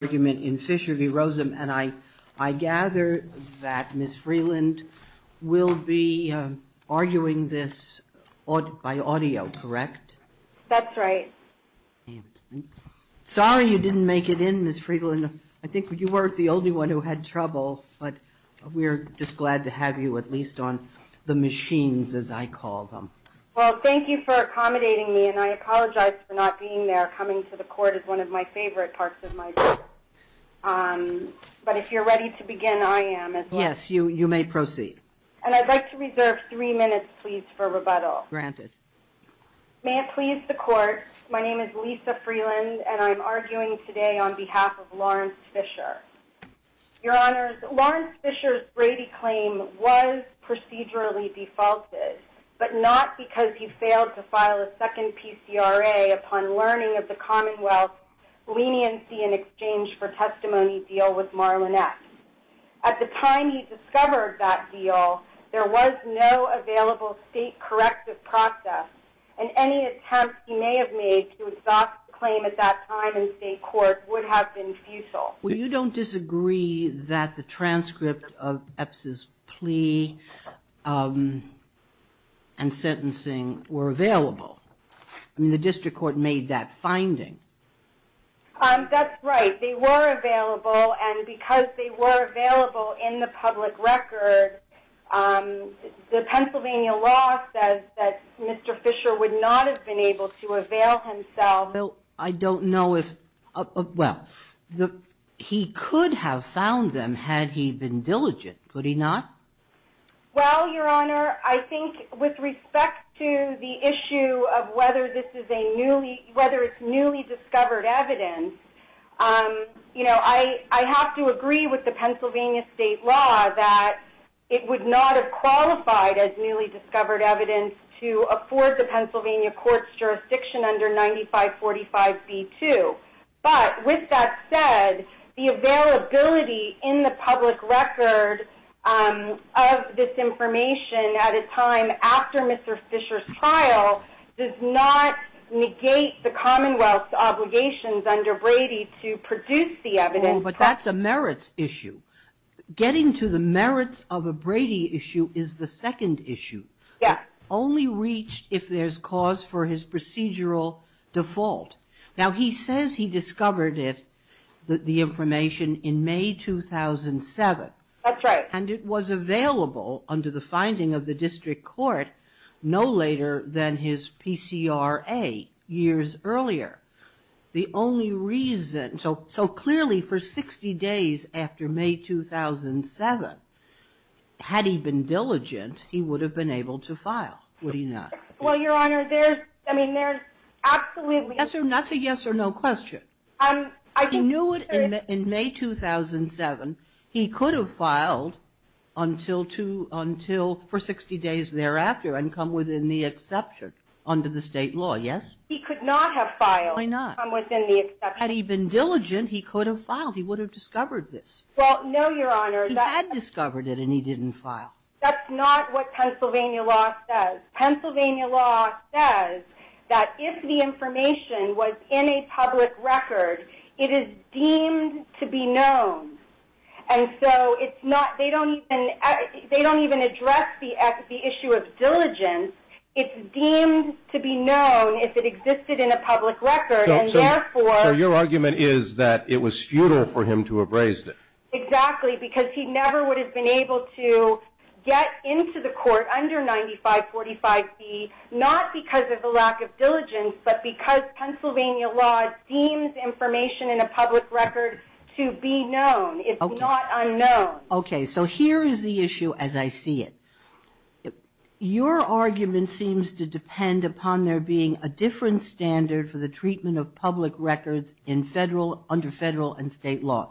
and I gather that Ms. Freeland will be arguing this by audio, correct? That's right. Sorry you didn't make it in, Ms. Freeland. I think you weren't the only one who had trouble, but we're just glad to have you at least on the machines, as I call them. Well, thank you for accommodating me, and I apologize for not being there. Coming to the court is one of my favorite parts of my job. But if you're ready to begin, I am. Yes, you may proceed. And I'd like to reserve three minutes, please, for rebuttal. Granted. May it please the Court, my name is Lisa Freeland, and I'm arguing today on behalf of Lawrence Fisher. Your Honors, Lawrence Fisher's Brady claim was procedurally defaulted, but not because he failed to file a second PCRA upon learning of the Commonwealth leniency in exchange for testimony deal with Marlon Epps. At the time he discovered that deal, there was no available state corrective process, and any attempt he may have made to exhaust the claim at that time in state court would have been futile. Well, you don't disagree that the transcript of Epps' plea and sentencing were available? I mean, the district court made that finding. That's right. They were available, and because they were available in the public record, the Pennsylvania law says that Mr. Fisher would not have been able to avail himself. Well, I don't know if, well, he could have found them had he been diligent, could he not? Well, Your Honor, I think with respect to the issue of whether this is a newly, whether it's newly discovered evidence, you know, I have to agree with the Pennsylvania state law that it would not have qualified as newly discovered evidence to afford the Pennsylvania court's jurisdiction under 9545B2. But with that said, the availability in the public record of this information at a time after Mr. Fisher's trial does not negate the Commonwealth's obligations under Brady to produce the evidence. But that's a merits issue. Getting to the merits of a Brady issue is the second issue. Yeah. Only reached if there's cause for his procedural default. Now, he says he discovered it, the information, in May 2007. That's right. And it was available under the finding of the district court no later than his PCRA years earlier. The only reason, so clearly for 60 days after May 2007, had he been diligent, he would have been able to file, would he not? Well, Your Honor, there's, I mean, there's absolutely That's a yes or no question. He knew it in May 2007. He could have filed until for 60 days thereafter and come within the exception under the state law, yes? He could not have filed. Why not? Come within the exception. Had he been diligent, he could have filed. He would have discovered this. Well, no, Your Honor. He had discovered it and he didn't file. That's not what Pennsylvania law says. Pennsylvania law says that if the information was in a public record, it is deemed to be known. And so it's not, they don't even address the issue of diligence. It's deemed to be known if it existed in a public record, and therefore So your argument is that it was futile for him to have raised it. Exactly, because he never would have been able to get into the court under 9545B, not because of the lack of diligence, but because Pennsylvania law deems information in a public record to be known. It's not unknown. Okay, so here is the issue as I see it. Your argument seems to depend upon there being a different standard for the treatment of public records in federal, under federal, and state law.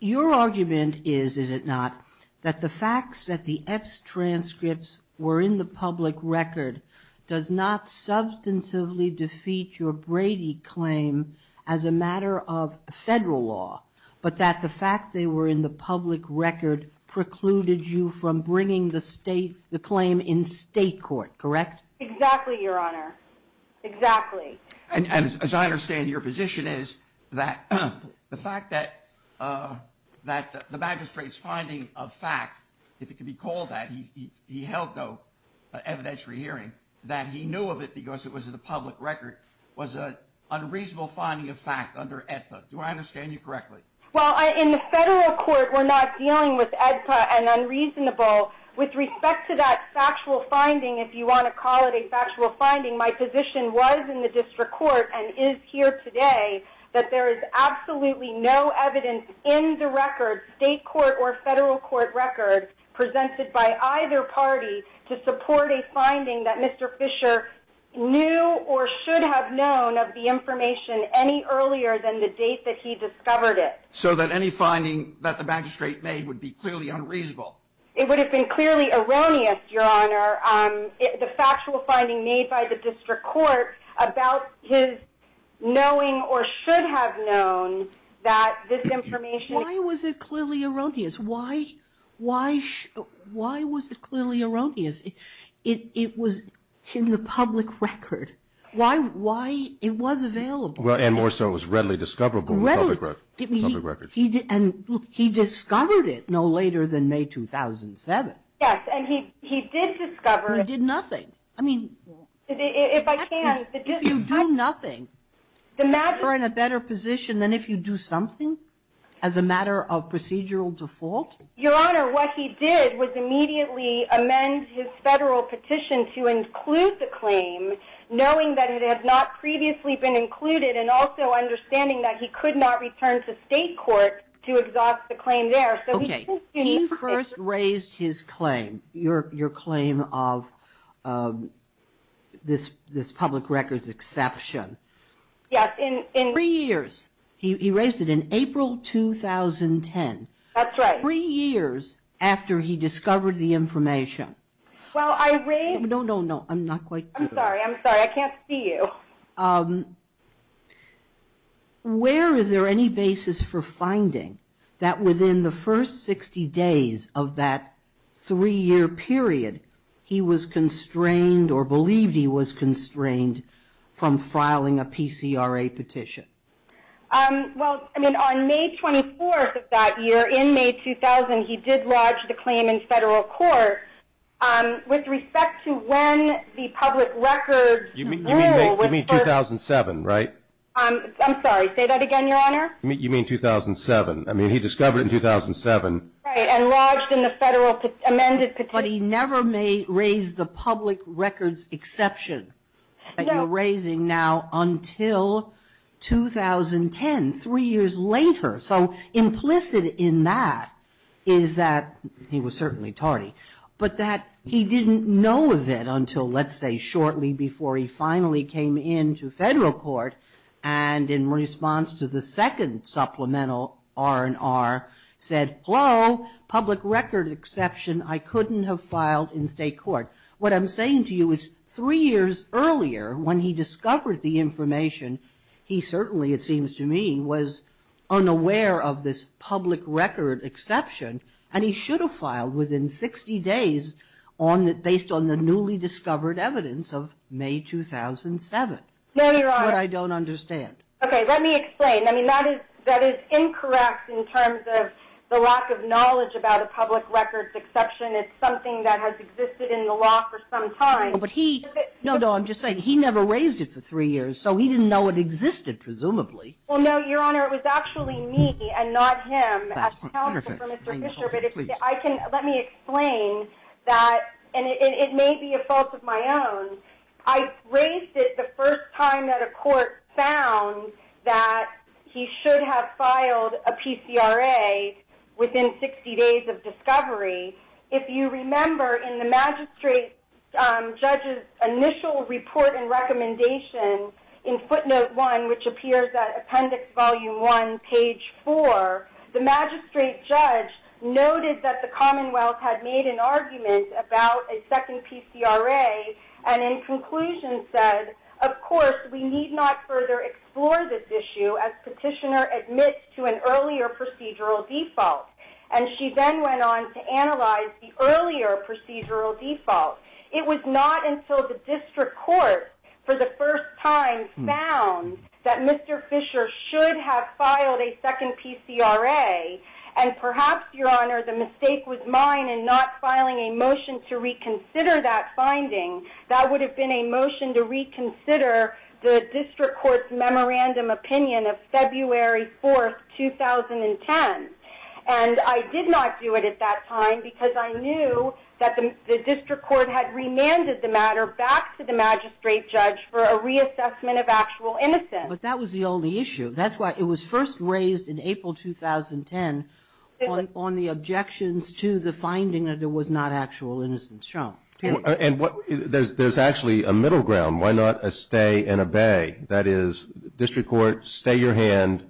Your argument is, is it not, that the fact that the X transcripts were in the public record does not substantively defeat your Brady claim as a matter of federal law, but that the fact they were in the public record precluded you from bringing the claim in state court, correct? Exactly, Your Honor, exactly. And as I understand, your position is that the fact that the magistrate's finding of fact, if it can be called that, he held no evidentiary hearing, that he knew of it because it was in the public record, was an unreasonable finding of fact under AEDPA. Do I understand you correctly? Well, in the federal court, we're not dealing with AEDPA and unreasonable. With respect to that factual finding, if you want to call it a factual finding, my position was in the district court and is here today that there is absolutely no evidence in the record, state court or federal court record, presented by either party to support a finding that Mr. Fisher knew or should have known of the information any earlier than the date that he discovered it. So that any finding that the magistrate made would be clearly unreasonable? It would have been clearly erroneous, Your Honor, the factual finding made by the district court about his knowing or should have known that this information Why was it clearly erroneous? Why was it clearly erroneous? It was in the public record. Why? It was available. And more so, it was readily discoverable in the public record. And he discovered it no later than May 2007. Yes, and he did discover it. He did nothing. I mean, if you do nothing, you're in a better position than if you do something as a matter of procedural default? Your Honor, what he did was immediately amend his federal petition to include the claim, knowing that it had not previously been included, and also understanding that he could not return to state court to exhaust the claim there. Okay. He first raised his claim, your claim of this public record's exception. Yes, in Three years. He raised it in April 2010. That's right. Three years after he discovered the information. Well, I raised No, no, no, I'm not quite I'm sorry, I'm sorry, I can't see you. Where is there any basis for finding that within the first 60 days of that three-year period, he was constrained or believed he was constrained from filing a PCRA petition? Well, I mean, on May 24th of that year, in May 2000, he did lodge the claim in federal court. With respect to when the public record rule You mean 2007, right? I'm sorry, say that again, your Honor? You mean 2007. I mean, he discovered it in 2007. Right, and lodged in the federal amended petition But he never raised the public record's exception that you're raising now until 2010, three years later. So implicit in that is that he was certainly tardy, but that he didn't know of it until, let's say, shortly before he finally came into federal court and in response to the second supplemental R&R said, Hello, public record exception I couldn't have filed in state court. What I'm saying to you is three years earlier, when he discovered the information, he certainly, it seems to me, was unaware of this public record exception and he should have filed within 60 days based on the newly discovered evidence of May 2007. No, your Honor. But I don't understand. Okay, let me explain. I mean, that is incorrect in terms of the lack of knowledge about a public record's exception. It's something that has existed in the law for some time. No, no, I'm just saying he never raised it for three years, so he didn't know it existed, presumably. Well, no, your Honor. It was actually me and not him as counsel for Mr. Fisher. Let me explain that, and it may be a fault of my own. I raised it the first time that a court found that he should have filed a PCRA within 60 days of discovery. If you remember in the magistrate judge's initial report and recommendation in footnote 1, which appears at appendix volume 1, page 4, the magistrate judge noted that the Commonwealth had made an argument about a second PCRA and in conclusion said, of course, we need not further explore this issue as petitioner admits to an earlier procedural default. And she then went on to analyze the earlier procedural default. It was not until the district court, for the first time, found that Mr. Fisher should have filed a second PCRA, and perhaps, your Honor, the mistake was mine in not filing a motion to reconsider that finding. That would have been a motion to reconsider the district court's memorandum opinion of February 4, 2010. And I did not do it at that time because I knew that the district court had remanded the matter back to the magistrate judge for a reassessment of actual innocence. But that was the only issue. That's why it was first raised in April 2010 on the objections to the finding that there was not actual innocence shown. And there's actually a middle ground. Why not a stay and obey? That is, district court, stay your hand,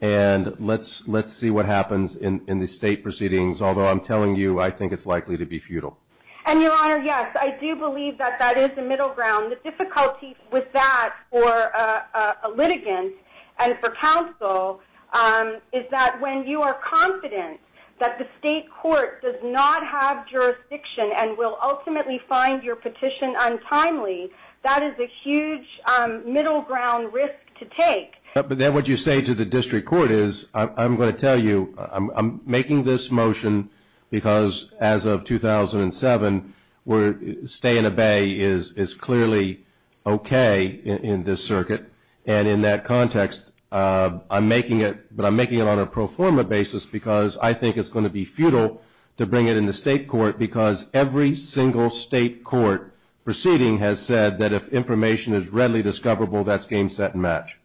and let's see what happens in the state proceedings, although I'm telling you I think it's likely to be futile. And, your Honor, yes, I do believe that that is the middle ground. The difficulty with that for a litigant and for counsel is that when you are confident that the state court does not have jurisdiction and will ultimately find your petition untimely, that is a huge middle ground risk to take. But then what you say to the district court is, I'm going to tell you I'm making this motion because as of 2007, where stay and obey is clearly okay in this circuit. And in that context, I'm making it, but I'm making it on a pro forma basis because I think it's going to be futile to bring it in the state court because every single state court proceeding has said that if information is readily discoverable, that's game, set, and match.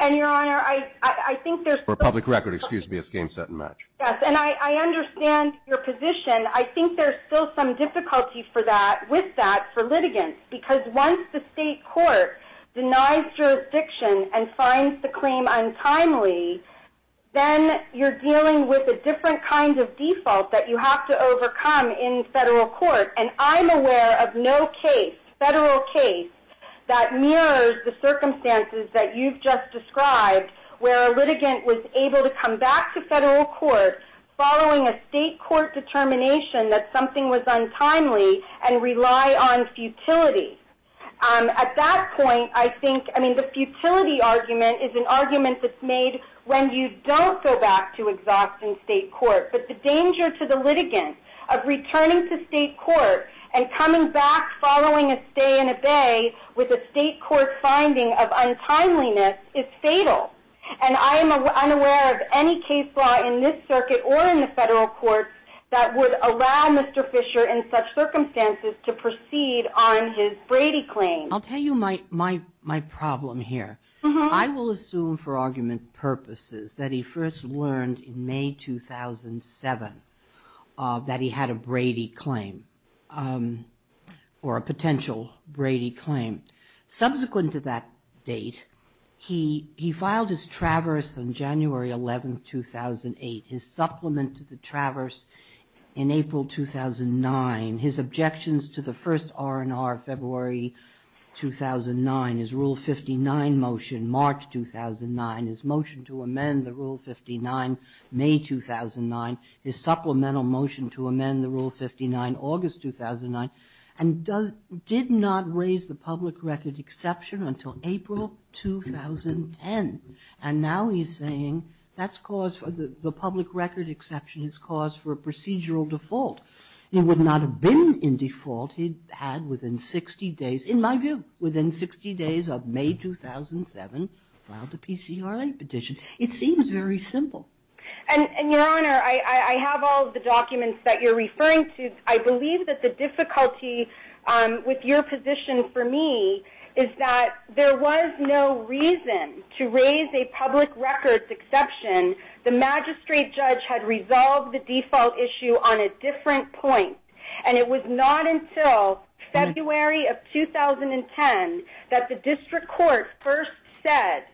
And, your Honor, I think there's still... For public record, excuse me, it's game, set, and match. Yes, and I understand your position. I think there's still some difficulty with that for litigants because once the state court denies jurisdiction and finds the claim untimely, then you're dealing with a different kind of default that you have to overcome in federal court. And I'm aware of no case, federal case, that mirrors the circumstances that you've just described where a litigant was able to come back to federal court following a state court determination that something was untimely and rely on futility. At that point, I think, I mean, the futility argument is an argument that's made when you don't go back to exhausting state court. But the danger to the litigant of returning to state court and coming back following a stay and obey with a state court finding of untimeliness is fatal. And I am unaware of any case law in this circuit or in the federal courts that would allow Mr. Fisher in such circumstances to proceed on his Brady claim. I'll tell you my problem here. I will assume for argument purposes that he first learned in May 2007 that he had a Brady claim or a potential Brady claim. Subsequent to that date, he filed his traverse on January 11, 2008. His supplement to the traverse in April 2009. His objections to the first R&R February 2009. His Rule 59 motion March 2009. His motion to amend the Rule 59 May 2009. His supplemental motion to amend the Rule 59 August 2009. And did not raise the public record exception until April 2010. And now he's saying that's cause for the public record exception is cause for a procedural default. It would not have been in default if he had within 60 days, in my view, within 60 days of May 2007 filed a PCRA petition. It seems very simple. And, Your Honor, I have all of the documents that you're referring to. I believe that the difficulty with your position for me is that there was no reason to raise a public record exception. The magistrate judge had resolved the default issue on a different point. And it was not until February of 2010 that the District Court first said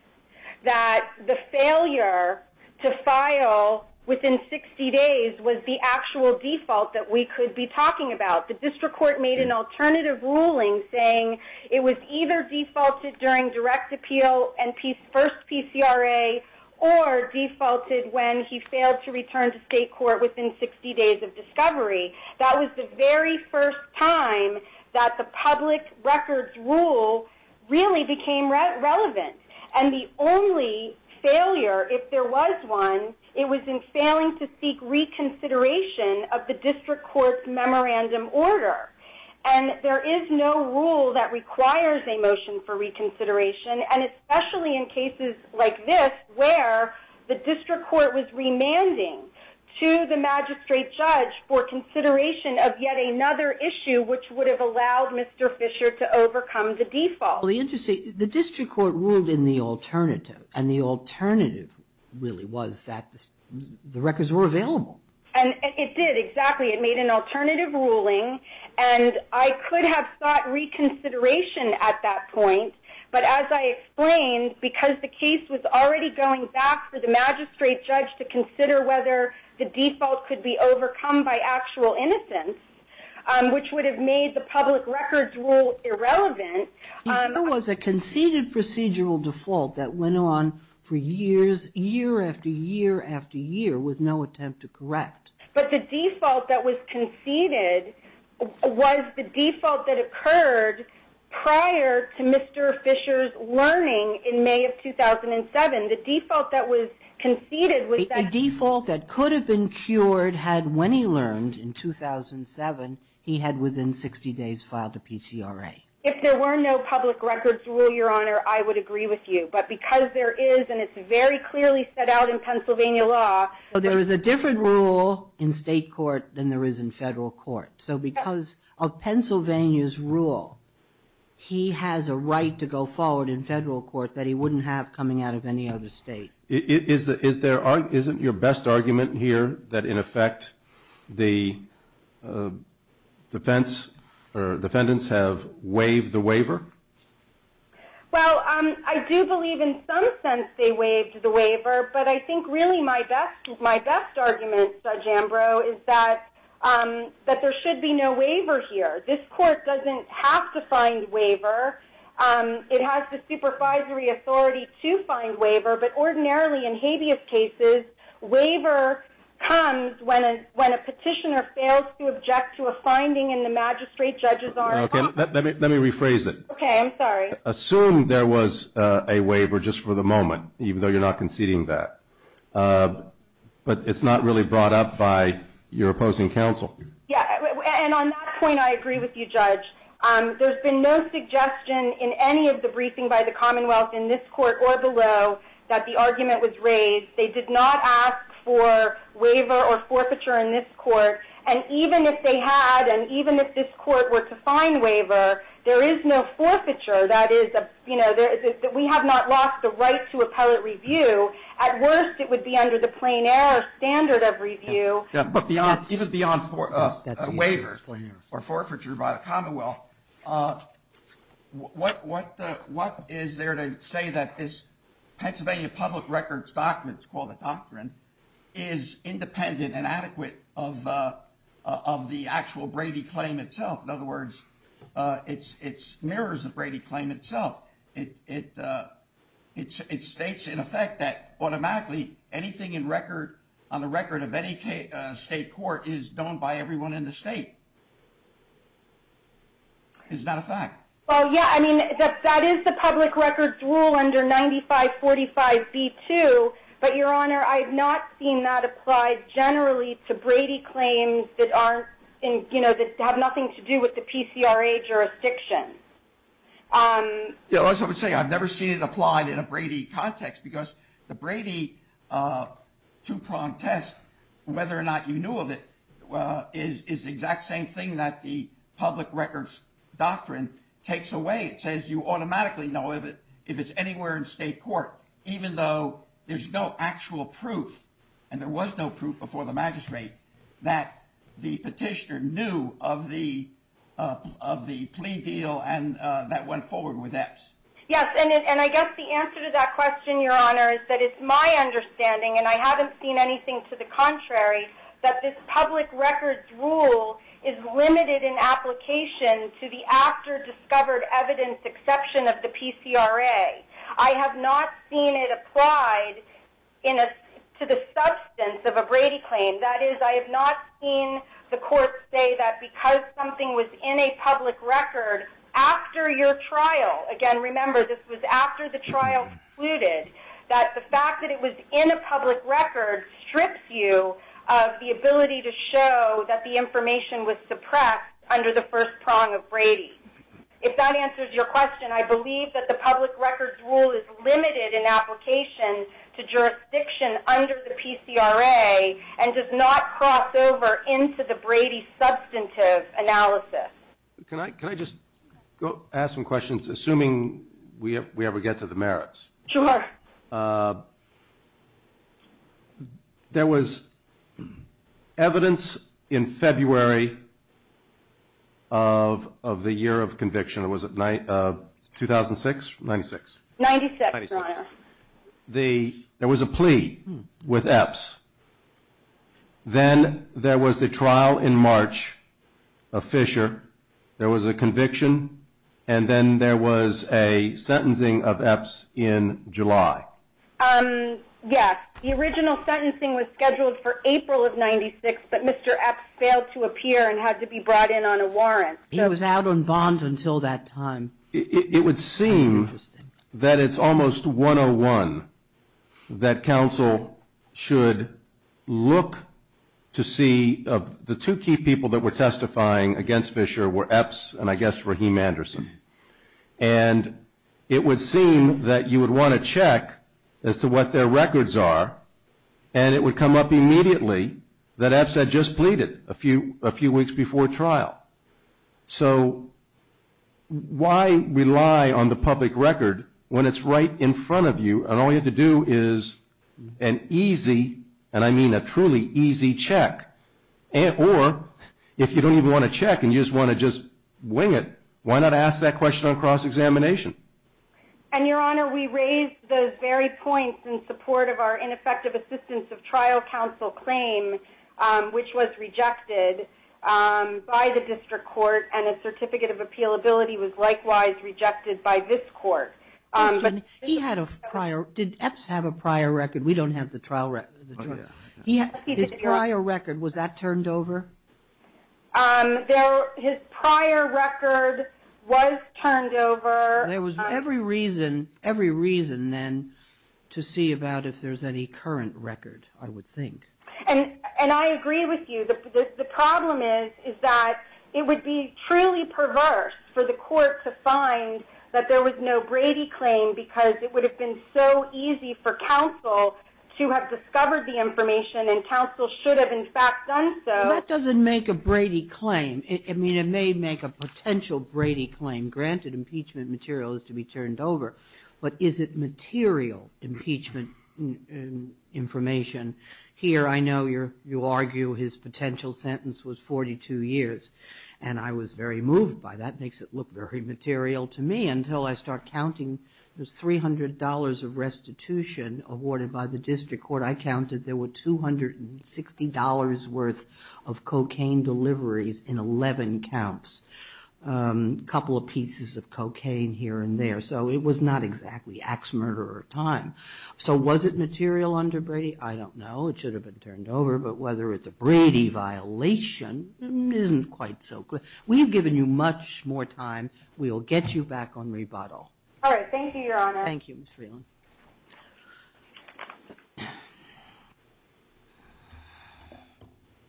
that the failure to file within 60 days was the actual default that we could be talking about. The District Court made an alternative ruling saying it was either defaulted during direct appeal and first PCRA or defaulted when he failed to return to state court within 60 days of discovery. That was the very first time that the public records rule really became relevant. And the only failure, if there was one, it was in failing to seek reconsideration of the District Court's memorandum order. And there is no rule that requires a motion for reconsideration, and especially in cases like this where the District Court was remanding to the magistrate judge for consideration of yet another issue which would have allowed Mr. Fisher to overcome the default. The District Court ruled in the alternative. And the alternative really was that the records were available. And it did, exactly. It made an alternative ruling. And I could have sought reconsideration at that point, but as I explained, because the case was already going back for the magistrate judge to consider whether the default could be overcome by actual innocence, which would have made the public records rule irrelevant. It was a conceded procedural default that went on for years, year after year after year with no attempt to correct. But the default that was conceded was the default that occurred prior to Mr. Fisher's learning in May of 2007. The default that was conceded was that... A default that could have been cured had, when he learned in 2007, he had within 60 days filed a PCRA. If there were no public records rule, Your Honor, I would agree with you. But because there is, and it's very clearly set out in Pennsylvania law... There is a different rule in state court than there is in federal court. So because of Pennsylvania's rule, he has a right to go forward in federal court that he wouldn't have coming out of any other state. Isn't your best argument here that, in effect, the defendants have waived the waiver? Well, I do believe in some sense they waived the waiver, but I think really my best argument, Judge Ambrose, is that there should be no waiver here. This court doesn't have to find waiver. It has the supervisory authority to find waiver, but ordinarily in habeas cases, waiver comes when a petitioner fails to object to a finding and the magistrate, judges aren't... Okay, let me rephrase it. Okay, I'm sorry. Assume there was a waiver just for the moment, even though you're not conceding that. But it's not really brought up by your opposing counsel. Yeah, and on that point, I agree with you, Judge. There's been no suggestion in any of the briefing by the Commonwealth in this court or below that the argument was raised. They did not ask for waiver or forfeiture in this court, and even if they had and even if this court were to find waiver, there is no forfeiture. That is, you know, we have not lost the right to appellate review. At worst, it would be under the plein air standard of review. But even beyond waiver or forfeiture by the Commonwealth, what is there to say that this Pennsylvania Public Records Doctrine, it's called a doctrine, is independent and adequate of the actual Brady claim itself? In other words, it mirrors the Brady claim itself. It states, in effect, that automatically anything on the record of any state court is done by everyone in the state. It's not a fact. Well, yeah, I mean, that is the public records rule under 9545B2, but, Your Honor, I have not seen that applied generally to Brady claims that have nothing to do with the PCRA jurisdiction. Yeah, as I was saying, I've never seen it applied in a Brady context because the Brady two-prong test, whether or not you knew of it, is the exact same thing that the public records doctrine takes away. It says you automatically know if it's anywhere in state court, even though there's no actual proof, and there was no proof before the magistrate, that the petitioner knew of the plea deal that went forward with EPS. Yes, and I guess the answer to that question, Your Honor, is that it's my understanding, and I haven't seen anything to the contrary, that this public records rule is limited in application to the after-discovered evidence exception of the PCRA. I have not seen it applied to the substance of a Brady claim. That is, I have not seen the court say that because something was in a public record after your trial, again, remember, this was after the trial concluded, that the fact that it was in a public record strips you of the ability to show that the information was suppressed under the first prong of Brady. If that answers your question, I believe that the public records rule is limited in application to jurisdiction under the PCRA and does not cross over into the Brady substantive analysis. Can I just ask some questions, assuming we ever get to the merits? Sure. There was evidence in February of the year of conviction. It was 2006? 96? 96, Your Honor. There was a plea with EPS. Then there was the trial in March of Fisher. There was a conviction, and then there was a sentencing of EPS in July. Yes. The original sentencing was scheduled for April of 96, but Mr. EPS failed to appear and had to be brought in on a warrant. He was out on bond until that time. It would seem that it's almost 101 that counsel should look to see. The two key people that were testifying against Fisher were EPS and, I guess, Raheem Anderson. And it would seem that you would want to check as to what their records are, and it would come up immediately that EPS had just pleaded a few weeks before trial. So why rely on the public record when it's right in front of you and all you have to do is an easy, and I mean a truly easy, check? Or, if you don't even want to check and you just want to just wing it, why not ask that question on cross-examination? And, Your Honor, we raised those very points in support of our ineffective assistance of trial counsel claim, which was rejected by the district court, and a certificate of appealability was likewise rejected by this court. Did EPS have a prior record? We don't have the trial record. His prior record, was that turned over? His prior record was turned over. There was every reason then to see about if there's any current record, I would think. And I agree with you. The problem is that it would be truly perverse for the court to find that there was no Brady claim because it would have been so easy for counsel to have discovered the information and counsel should have, in fact, done so. That doesn't make a Brady claim. I mean, it may make a potential Brady claim, granted impeachment material is to be turned over, but is it material impeachment information? Here, I know you argue his potential sentence was 42 years, and I was very moved by that. That makes it look very material to me until I start counting the $300 of restitution awarded by the district court. I counted there were $260 worth of cocaine deliveries in 11 counts, a couple of pieces of cocaine here and there. So it was not exactly ax murderer time. So was it material under Brady? I don't know. It should have been turned over, but whether it's a Brady violation isn't quite so clear. So we have given you much more time. We will get you back on rebuttal. All right. Thank you, Your Honor. Thank you, Ms. Freeland.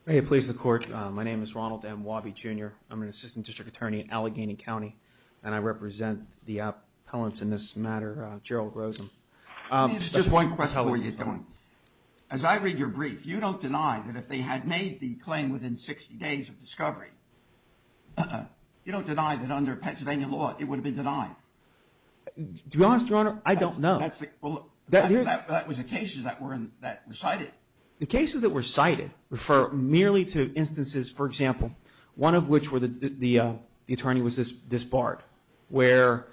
May it please the court. My name is Ronald M. Wabi, Jr. I'm an assistant district attorney in Allegheny County, and I represent the appellants in this matter, Gerald Rosen. Just one question. How are you doing? As I read your brief, you don't deny that if they had made the claim within 60 days of discovery, you don't deny that under Pennsylvania law it would have been denied? To be honest, Your Honor, I don't know. That was the cases that were cited. The cases that were cited refer merely to instances, for example, one of which where the attorney was disbarred, where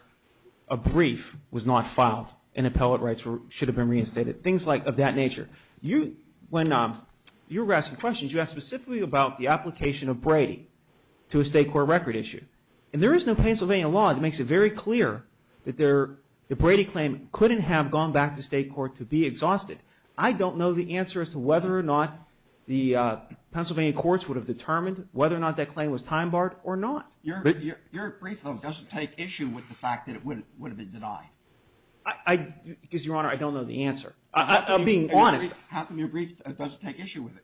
a brief was not filed and appellate rights should have been reinstated. Things of that nature. When you were asking questions, you asked specifically about the application of Brady to a state court record issue. And there is no Pennsylvania law that makes it very clear that the Brady claim couldn't have gone back to state court to be exhausted. I don't know the answer as to whether or not the Pennsylvania courts would have determined whether or not that claim was time barred or not. Your brief, though, doesn't take issue with the fact that it would have been denied. Because, Your Honor, I don't know the answer. I'm being honest. How come your brief doesn't take issue with it?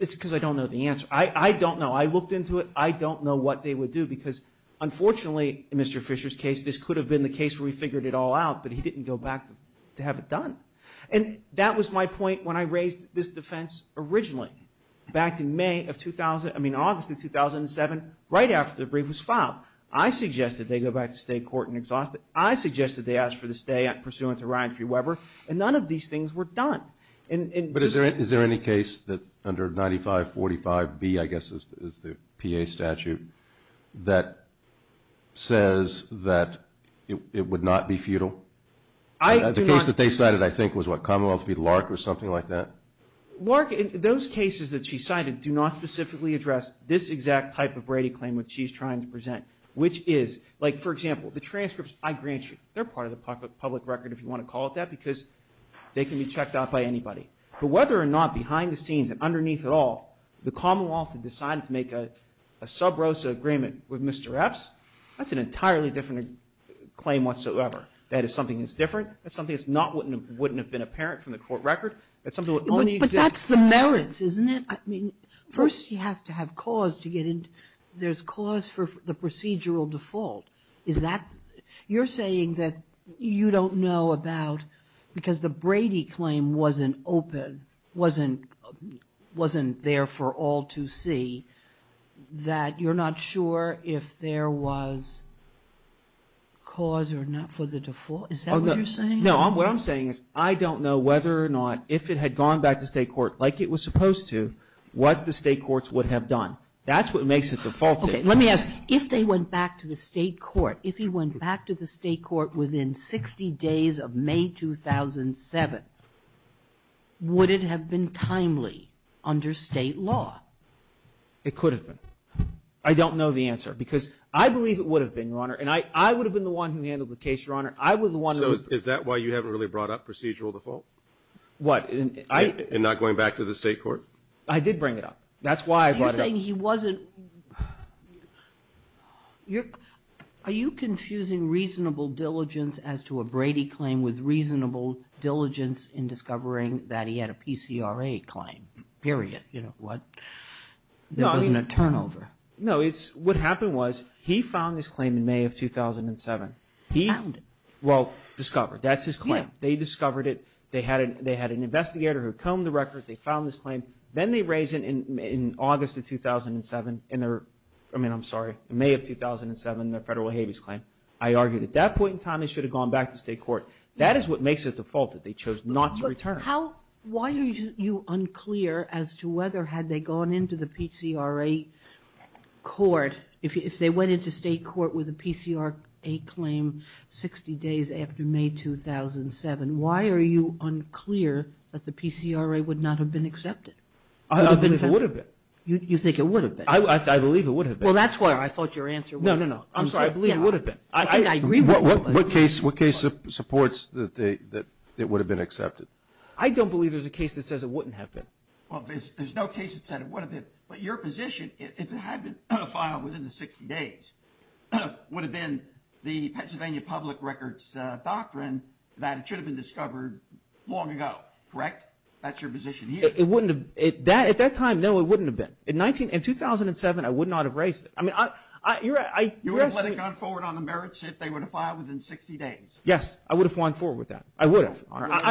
It's because I don't know the answer. I don't know. I looked into it. I don't know what they would do because, unfortunately, in Mr. Fisher's case, this could have been the case where we figured it all out, but he didn't go back to have it done. And that was my point when I raised this defense originally back in May of 2000, I mean August of 2007, right after the brief was filed. I suggested they go back to state court and exhaust it. I suggested they ask for the stay pursuant to Ryan Free Weber, and none of these things were done. But is there any case that's under 9545B, I guess is the PA statute, that says that it would not be futile? The case that they cited, I think, was what, Commonwealth v. Lark or something like that? Lark, those cases that she cited do not specifically address this exact type of Brady claim which she's trying to present, which is, like, for example, the transcripts, I grant you, they're part of the public record, if you want to call it that, because they can be checked out by anybody. But whether or not behind the scenes and underneath it all, the Commonwealth had decided to make a sub rosa agreement with Mr. Epps, that's an entirely different claim whatsoever. That is something that's different. That's something that wouldn't have been apparent from the court record. That's something that only exists... But that's the merits, isn't it? I mean, first you have to have cause to get in. There's cause for the procedural default. Is that... You're saying that you don't know about, because the Brady claim wasn't open, wasn't there for all to see, that you're not sure if there was cause or not for the default? Is that what you're saying? No, what I'm saying is I don't know whether or not, if it had gone back to state court, like it was supposed to, what the state courts would have done. That's what makes it defaulted. Okay, let me ask, if they went back to the state court, if he went back to the state court within 60 days of May 2007, would it have been timely under state law? It could have been. I don't know the answer, because I believe it would have been, Your Honor, and I would have been the one who handled the case, Your Honor. So is that why you haven't really brought up procedural default? What? In not going back to the state court? I did bring it up. That's why I brought it up. So you're saying he wasn't – are you confusing reasonable diligence as to a Brady claim with reasonable diligence in discovering that he had a PCRA claim, period? You know what? There wasn't a turnover. No, what happened was he filed this claim in May of 2007. He? Found it. Well, discovered. That's his claim. They discovered it. They had an investigator who combed the record. They filed this claim. Then they raised it in August of 2007. I mean, I'm sorry, May of 2007, the federal habeas claim. I argued at that point in time they should have gone back to state court. That is what makes it defaulted. They chose not to return. Why are you unclear as to whether had they gone into the PCRA court, if they went into state court with a PCRA claim 60 days after May 2007, why are you unclear that the PCRA would not have been accepted? I don't believe it would have been. You think it would have been? I believe it would have been. Well, that's why I thought your answer was – No, no, no. I'm sorry. I believe it would have been. I think I agree with you. What case supports that it would have been accepted? I don't believe there's a case that says it wouldn't have been. Well, there's no case that says it would have been. But your position, if it had been filed within the 60 days, would have been the Pennsylvania Public Records Doctrine that should have been discovered long ago, correct? That's your position here. It wouldn't have – at that time, no, it wouldn't have been. In 2007, I would not have raised it. I mean, I – You would have let it go forward on the merits if they would have filed within 60 days. Yes. I would have gone forward with that. I would have.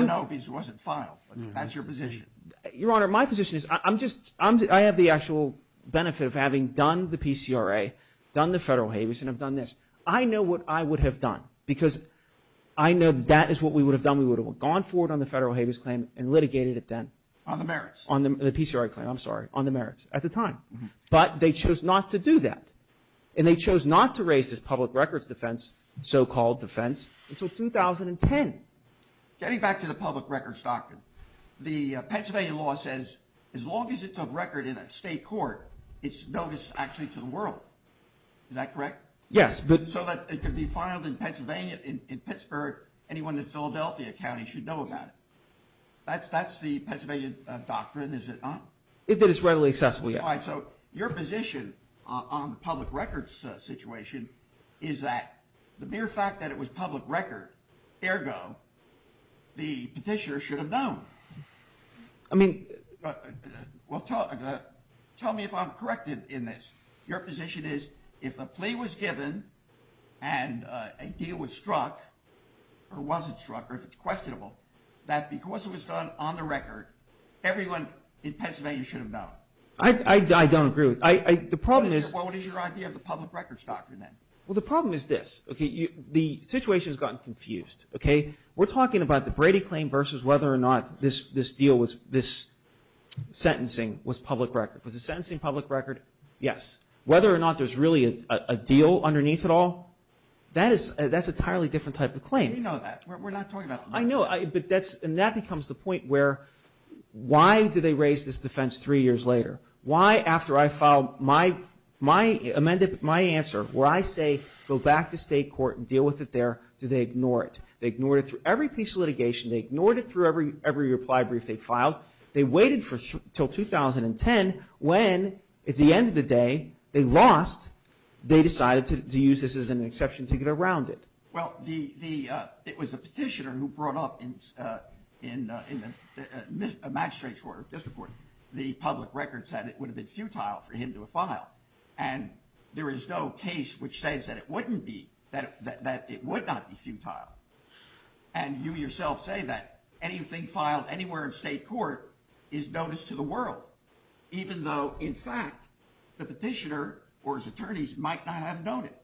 No, because it wasn't filed. That's your position. Your Honor, my position is I'm just – I have the actual benefit of having done the PCRA, done the federal habeas, and have done this. I know what I would have done because I know that is what we would have done. We would have gone forward on the federal habeas claim and litigated it then. On the merits. On the PCRA claim, I'm sorry, on the merits at the time. But they chose not to do that, and they chose not to raise this public records defense, so-called defense, until 2010. Getting back to the public records doctrine, the Pennsylvania law says as long as it's of record in a state court, it's notice actually to the world. Is that correct? Yes. So that it could be filed in Pennsylvania – in Pittsburgh, anyone in Philadelphia County should know about it. That's the Pennsylvania doctrine, is it not? If it is readily accessible, yes. All right. So your position on the public records situation is that the mere fact that it was public record, ergo, the petitioner should have known. I mean – Well, tell me if I'm corrected in this. Your position is if a plea was given and a deal was struck, or was it struck or if it's questionable, that because it was done on the record, everyone in Pennsylvania should have known. I don't agree with – the problem is – What is your idea of the public records doctrine then? Well, the problem is this. The situation has gotten confused. We're talking about the Brady claim versus whether or not this deal was – this sentencing was public record. Was the sentencing public record? Yes. Whether or not there's really a deal underneath it all, that's an entirely different type of claim. We know that. We're not talking about it. I know. And that becomes the point where why do they raise this defense three years later? Why, after I filed my – amended my answer, where I say go back to state court and deal with it there, do they ignore it? They ignored it through every piece of litigation. They ignored it through every reply brief they filed. They waited until 2010 when, at the end of the day, they lost. They decided to use this as an exception to get around it. Well, the – it was the petitioner who brought up in the magistrate's order, the public record said it would have been futile for him to have filed. And there is no case which says that it wouldn't be – that it would not be futile. And you yourself say that anything filed anywhere in state court is notice to the world, even though, in fact, the petitioner or his attorneys might not have known it.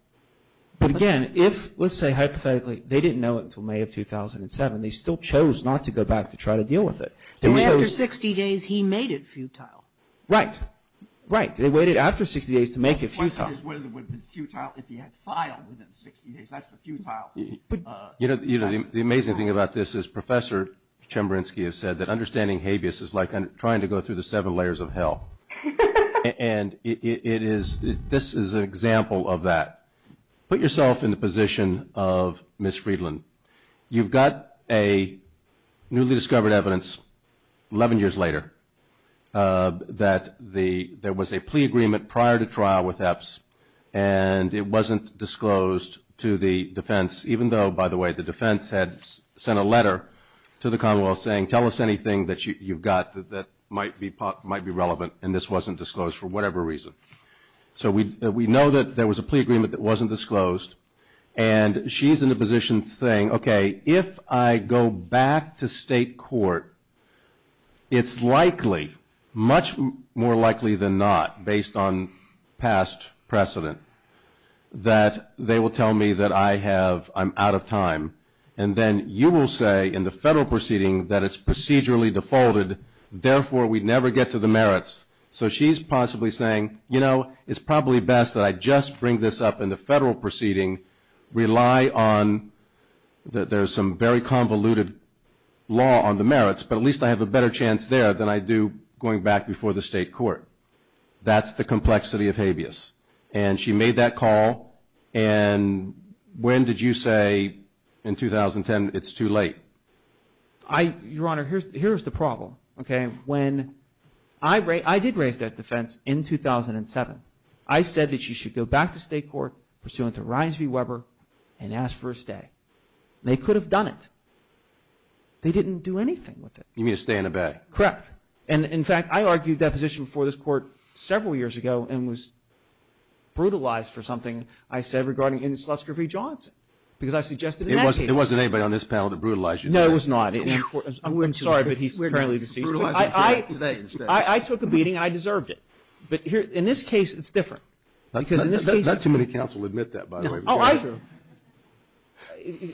But, again, if – let's say, hypothetically, they didn't know it until May of 2007. They still chose not to go back to try to deal with it. And after 60 days, he made it futile. Right. Right. They waited after 60 days to make it futile. The question is whether it would have been futile if he had filed within 60 days. That's the futile. You know, the amazing thing about this is Professor Chemerinsky has said that understanding habeas is like trying to go through the seven layers of hell. And it is – this is an example of that. Put yourself in the position of Ms. Friedland. You've got a newly discovered evidence 11 years later that there was a plea agreement prior to trial with EPS and it wasn't disclosed to the defense, even though, by the way, the defense had sent a letter to the Commonwealth saying, tell us anything that you've got that might be relevant, and this wasn't disclosed for whatever reason. So we know that there was a plea agreement that wasn't disclosed. And she's in a position saying, okay, if I go back to state court, it's likely, much more likely than not, based on past precedent, that they will tell me that I have – I'm out of time. And then you will say in the federal proceeding that it's procedurally defaulted, therefore we'd never get to the merits. So she's possibly saying, you know, it's probably best that I just bring this up in the federal proceeding, rely on – there's some very convoluted law on the merits, but at least I have a better chance there than I do going back before the state court. That's the complexity of habeas. And she made that call. And when did you say in 2010 it's too late? Your Honor, here's the problem, okay. I did raise that defense in 2007. I said that she should go back to state court pursuant to Ryans v. Weber and ask for a stay. They could have done it. They didn't do anything with it. You mean a stay and a bay? Correct. And, in fact, I argued that position before this court several years ago and was brutalized for something I said regarding Ennslutsker v. Johnson because I suggested it in that case. It wasn't anybody on this panel that brutalized you. No, it was not. I'm sorry, but he's currently deceased. I took a beating, and I deserved it. But in this case, it's different. Not too many counsels admit that, by the way.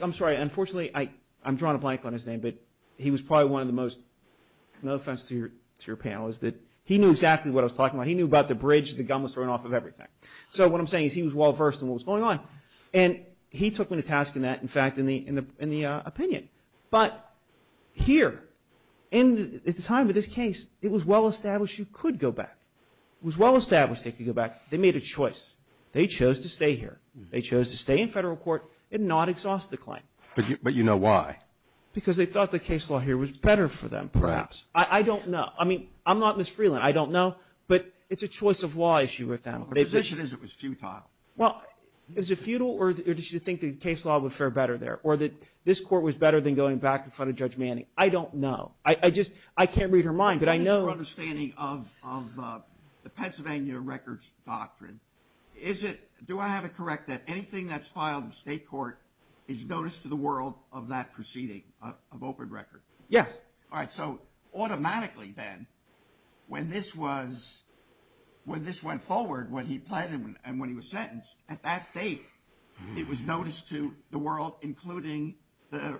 I'm sorry. Unfortunately, I'm drawing a blank on his name, but he was probably one of the most, no offense to your panel, is that he knew exactly what I was talking about. He knew about the bridge the gun was thrown off of everything. So what I'm saying is he was well-versed in what was going on. And he took me to task in that, in fact, in the opinion. But here, at the time of this case, it was well-established he could go back. It was well-established he could go back. They made a choice. They chose to stay here. They chose to stay in federal court and not exhaust the claim. But you know why. Because they thought the case law here was better for them, perhaps. I don't know. I mean, I'm not Ms. Freeland. I don't know. But it's a choice of law issue with them. The position is it was futile. Well, is it futile, or did you think the case law would fare better there? Or that this court was better than going back in front of Judge Manning? I don't know. I just can't read her mind. But I know. Your understanding of the Pennsylvania records doctrine, do I have it correct that anything that's filed in state court is notice to the world of that proceeding, of open record? Yes. All right. So automatically, then, when this went forward, when he pled and when he was including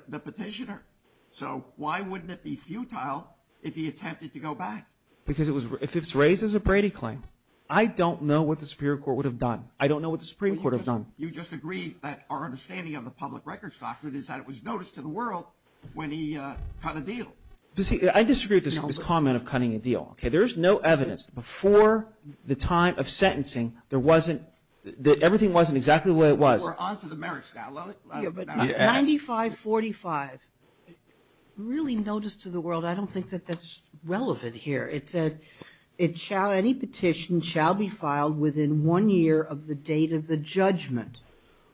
the petitioner. So why wouldn't it be futile if he attempted to go back? Because if it's raised as a Brady claim, I don't know what the Supreme Court would have done. I don't know what the Supreme Court would have done. You just agree that our understanding of the public records doctrine is that it was notice to the world when he cut a deal. I disagree with this comment of cutting a deal. There is no evidence. Before the time of sentencing, everything wasn't exactly the way it was. We're onto the merits now. 9545, really notice to the world. I don't think that that's relevant here. It said, any petition shall be filed within one year of the date of the judgment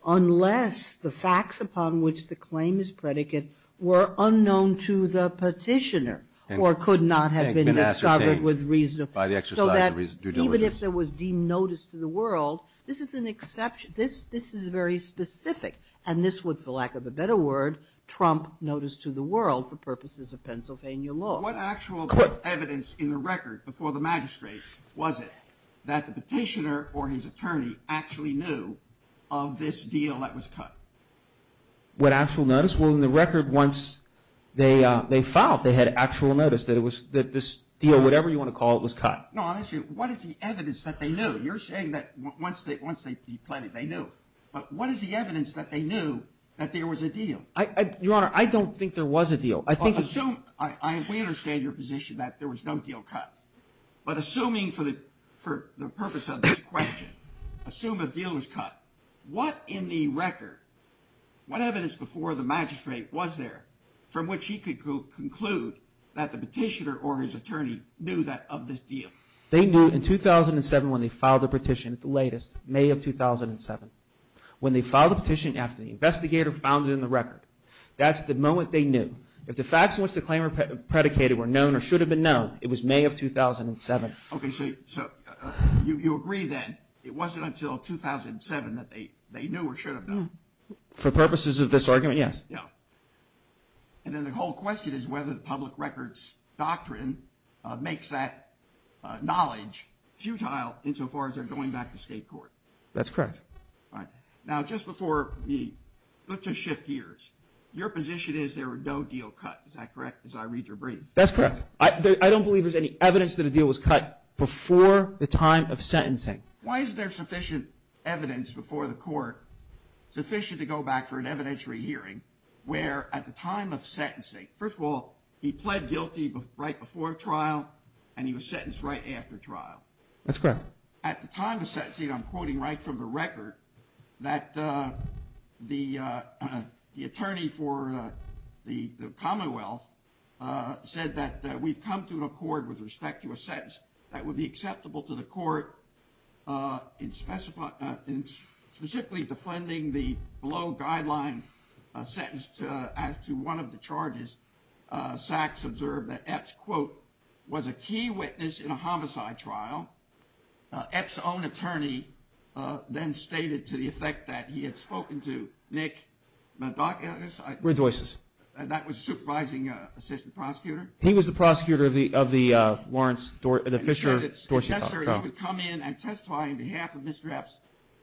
unless the facts upon which the claim is predicate were unknown to the petitioner or could not have been discovered with reason. So that even if there was deemed notice to the world, this is an exception. This is very specific, and this would, for lack of a better word, trump notice to the world for purposes of Pennsylvania law. What actual evidence in the record before the magistrate was it that the petitioner or his attorney actually knew of this deal that was cut? What actual notice? Well, in the record, once they filed, they had actual notice that this deal, whatever you want to call it, was cut. No, honestly, what is the evidence that they knew? No, you're saying that once they planned it, they knew. But what is the evidence that they knew that there was a deal? Your Honor, I don't think there was a deal. We understand your position that there was no deal cut, but assuming for the purpose of this question, assume a deal was cut, what in the record, what evidence before the magistrate was there from which he could conclude that the petitioner or his attorney knew of this deal? They knew in 2007 when they filed the petition, the latest, May of 2007. When they filed the petition after the investigator found it in the record, that's the moment they knew. If the facts in which the claim was predicated were known or should have been known, it was May of 2007. Okay, so you agree then, it wasn't until 2007 that they knew or should have known. For purposes of this argument, yes. And then the whole question is whether the public records doctrine makes that knowledge futile insofar as they're going back to state court. That's correct. All right. Now just before we shift gears, your position is there was no deal cut, is that correct as I read your brief? That's correct. I don't believe there's any evidence that a deal was cut before the time of sentencing. Why is there sufficient evidence before the court, sufficient to go back for an evidentiary hearing where at the time of sentencing, first of all, he pled guilty right before trial and he was sentenced right after trial. That's correct. At the time of sentencing, I'm quoting right from the record, that the attorney for the Commonwealth said that we've come to an accord with respect to a sentence that would be acceptable to the court in specifically defending the below guideline sentence as to one of the charges. Sachs observed that Epps, quote, was a key witness in a homicide trial. Epps' own attorney then stated to the effect that he had spoken to Nick Mendoza, that was supervising assistant prosecutor. He was the prosecutor of the Warrens, the Fisher-Dorsett trial. He would come in and testify on behalf of Mr. Epps,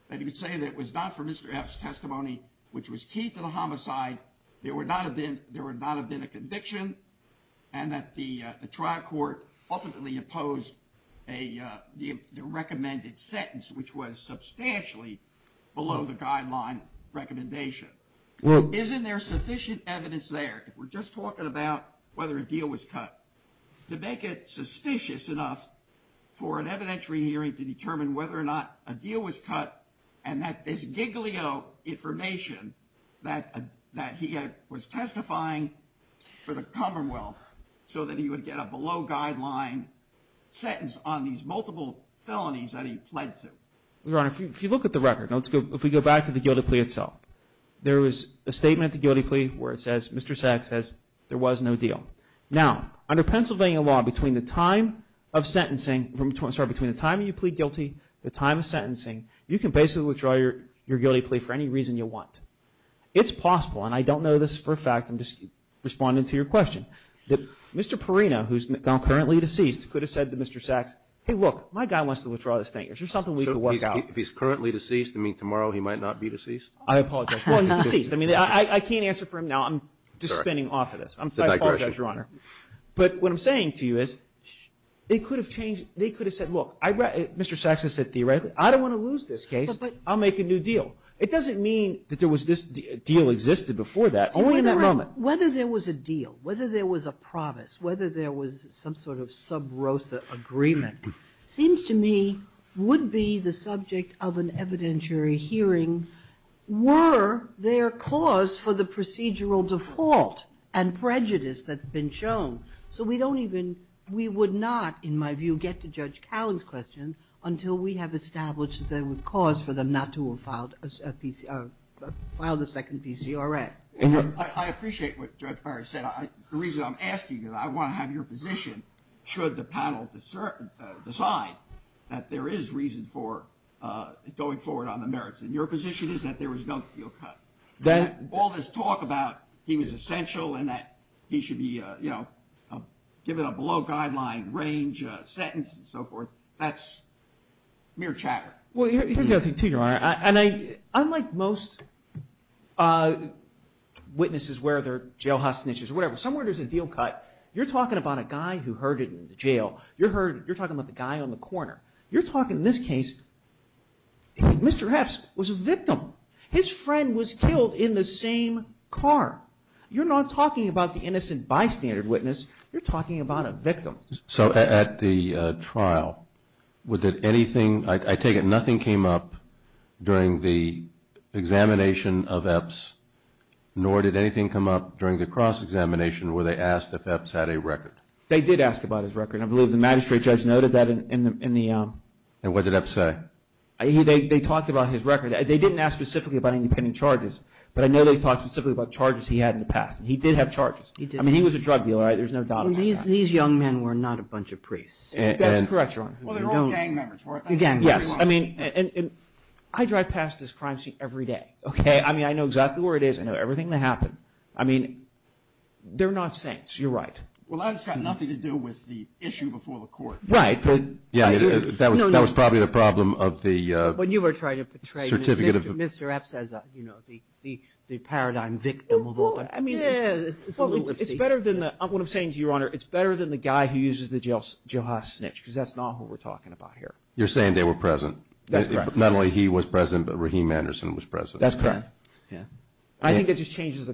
and he would say that it was not for Mr. Epps' testimony, which was key to the homicide, there would not have been a conviction, and that the trial court ultimately opposed the recommended sentence, which was substantially below the guideline recommendation. Isn't there sufficient evidence there? We're just talking about whether a deal was cut. To make it suspicious enough for an evidentiary hearing to determine whether or not a deal was cut and that this giglio information that he was testifying for the Commonwealth so that he would get a below guideline sentence on these multiple felonies that he pled to. Your Honor, if you look at the record, if we go back to the guilty plea itself, there is a statement at the guilty plea where it says, Mr. Sachs says, there was no deal. Now, under Pennsylvania law, between the time of sentencing, sorry, between the time you plead guilty, the time of sentencing, you can basically withdraw your guilty plea for any reason you want. It's possible, and I don't know this for a fact, I'm just responding to your question, that Mr. Perino, who's now currently deceased, could have said to Mr. Sachs, hey, look, my guy wants to withdraw this thing. Is there something we can work out? If he's currently deceased, you mean tomorrow he might not be deceased? I apologize. Well, he's deceased. I mean, I can't answer for him now. I'm just spinning off of this. I'm sorry. I apologize, Your Honor. But what I'm saying to you is it could have changed. They could have said, look, Mr. Sachs has said theoretically, I don't want to lose this case. I'll make a new deal. It doesn't mean that there was this deal existed before that, only in that moment. Whether there was a deal, whether there was a promise, whether there was some sort of sub rosa agreement, seems to me would be the subject of an evidentiary hearing were there cause for the procedural default and prejudice that's been shown. So we don't even, we would not, in my view, get to Judge Cowling's question until we have established that there was cause for them not to have filed a second PCRA. I appreciate what Judge Barry said. The reason I'm asking is I want to have your position, should the panel decide, that there is reason for going forward on the merits. And your position is that there was no deal cut. All this talk about he was essential and that he should be, you know, given a below guideline range sentence and so forth, that's mere chatter. Unlike most witnesses where they're jailhouse snitches or whatever, somewhere there's a deal cut. You're talking about a guy who heard it in the jail. You're talking about the guy on the corner. You're talking, in this case, Mr. Haps was a victim. His friend was killed in the same car. You're not talking about the innocent bystander witness. You're talking about a victim. So at the trial, did anything, I take it nothing came up during the examination of Epps, nor did anything come up during the cross-examination where they asked if Epps had a record. They did ask about his record. I believe the magistrate judge noted that in the. And what did Epps say? They talked about his record. They didn't ask specifically about independent charges, but I know they talked specifically about charges he had in the past. He did have charges. I mean, he was a drug dealer. There's no doubt about that. These young men were not a bunch of priests. That's correct, Your Honor. Well, they were all gang members, weren't they? Yes. I mean, I drive past this crime scene every day, okay? I mean, I know exactly where it is. I know everything that happened. I mean, they're not saints. You're right. Well, that's got nothing to do with the issue before the court. Right, but. Yeah, that was probably the problem of the certificate of. But you were trying to portray Mr. Epps as the paradigm victim of all that. Well, it's better than the. What I'm saying to you, Your Honor, it's better than the guy who uses the jailhouse snitch, because that's not who we're talking about here. You're saying they were present. That's correct. Not only he was present, but Rahim Anderson was present. That's correct. I think it just changes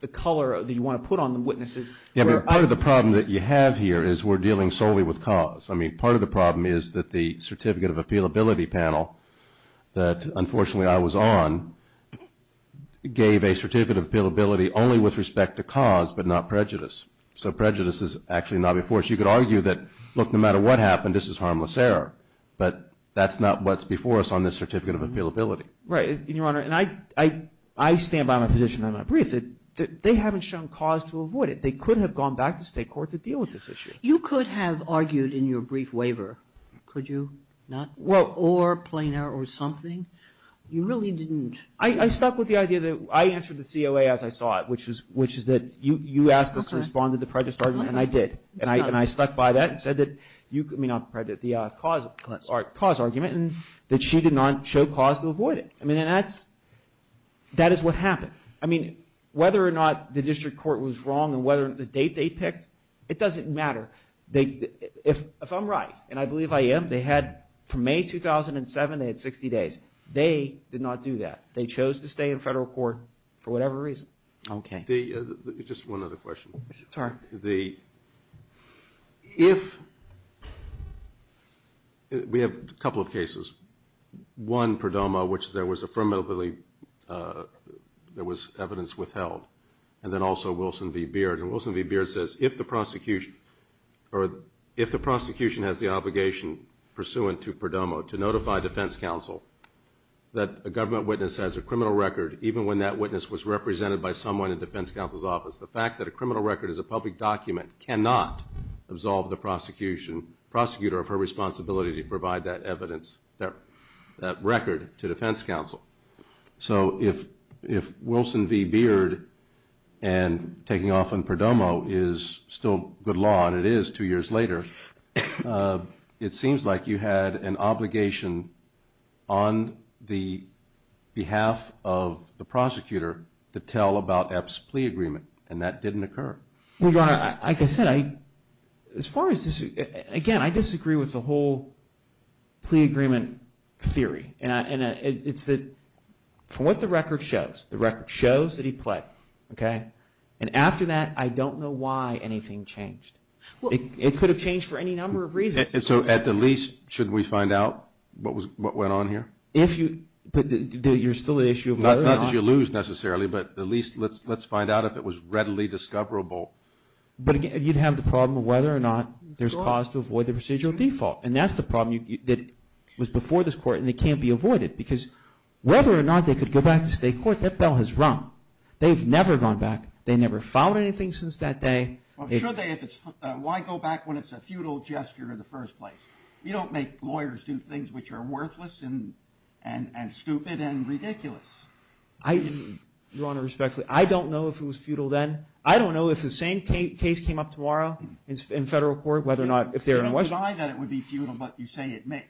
the color that you want to put on the witnesses. Part of the problem that you have here is we're dealing solely with cause. I mean, part of the problem is that the certificate of appealability panel that, unfortunately, I was on, gave a certificate of appealability only with respect to cause, but not prejudice. So prejudice is actually not before us. You could argue that, look, no matter what happened, this is harmless error, but that's not what's before us on this certificate of appealability. Right. And, Your Honor, I stand by my position in my brief that they haven't shown cause to avoid it. They could have gone back to state court to deal with this issue. You could have argued in your brief waiver, could you not? Well, or plain error or something. You really didn't. I stuck with the idea that I answered the COA as I saw it, which is that you asked us to respond to the prejudice argument, and I did. And I stuck by that and said that you could, I mean, not prejudice, the cause argument, and that she did not show cause to avoid it. I mean, that is what happened. I mean, whether or not the district court was wrong and whether the date they picked, it doesn't matter. If I'm right, and I believe I am, they had, from May 2007, they had 60 days. They did not do that. They chose to stay in federal court for whatever reason. Okay. Just one other question. Sorry. The, if, we have a couple of cases. One, Perdomo, which there was affirmatively, there was evidence withheld, and then also Wilson v. Beard. And Wilson v. Beard says, if the prosecution has the obligation pursuant to Perdomo to notify defense counsel that a government witness has a criminal record, even when that witness was represented by someone in defense counsel's office, the fact that a criminal record is a public document cannot absolve the prosecution, prosecutor of her responsibility to provide that evidence, that record to defense counsel. So if Wilson v. Beard and taking off on Perdomo is still good law, and it is two years later, it seems like you had an obligation on the behalf of the prosecutor to tell about Epps' plea agreement, and that didn't occur. Well, Your Honor, like I said, I, as far as this, again, I disagree with the whole plea agreement theory. And it's that from what the record shows, the record shows that he pled. Okay. And after that, I don't know why anything changed. It could have changed for any number of reasons. And so at the least, shouldn't we find out what went on here? If you, but you're still the issue of whether or not. Not that you lose necessarily, but at least let's find out if it was readily discoverable. But again, you'd have the problem of whether or not there's cause to avoid the procedural default. And that's the problem that was before this Court, and it can't be avoided. Because whether or not they could go back to state court, that bell has rung. They've never gone back. They never filed anything since that day. Well, should they if it's, why go back when it's a futile gesture in the first place? You don't make lawyers do things which are worthless and stupid and ridiculous. I, Your Honor, respectfully, I don't know if it was futile then. I don't know if the same case came up tomorrow in federal court, whether or not, if there was. You don't decide that it would be futile, but you say it may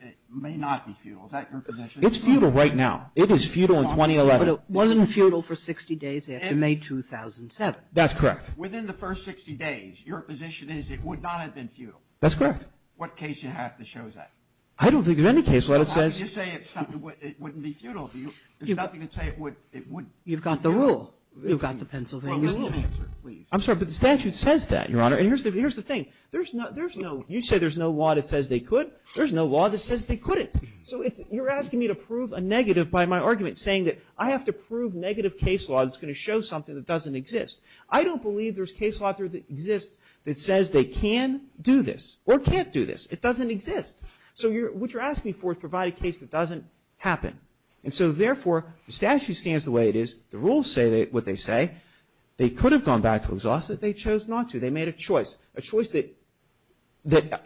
not be futile. Is that your position? It's futile right now. It is futile in 2011. But it wasn't futile for 60 days after May 2007. That's correct. Within the first 60 days, your position is it would not have been futile. That's correct. What case do you have that shows that? I don't think there's any case where it says. You say it wouldn't be futile. There's nothing to say it wouldn't be futile. You've got the rule. You've got the Pennsylvania Statute. I'm sorry, but the statute says that, Your Honor. And here's the thing. There's no, you say there's no law that says they could. There's no law that says they couldn't. So you're asking me to prove a negative by my argument, saying that I have to prove negative case law that's going to show something that doesn't exist. I don't believe there's case law that exists that says they can do this or can't do this. It doesn't exist. So what you're asking for is to provide a case that doesn't happen. And so, therefore, the statute stands the way it is. The rules say what they say. They could have gone back to exhaust it. They chose not to. They made a choice, a choice that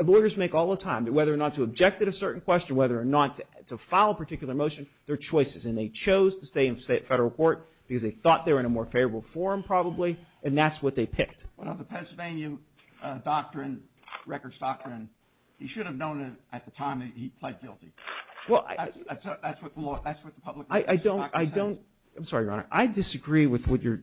lawyers make all the time, whether or not to object at a certain question, whether or not to file a particular motion. They're choices. And they chose to stay in federal court because they thought they were in a more favorable forum probably and that's what they picked. Well, the Pennsylvania Doctrine, Records Doctrine, he should have known it at the time that he pled guilty. That's what the law, that's what the public. I don't, I don't, I'm sorry, Your Honor. I disagree with what you're,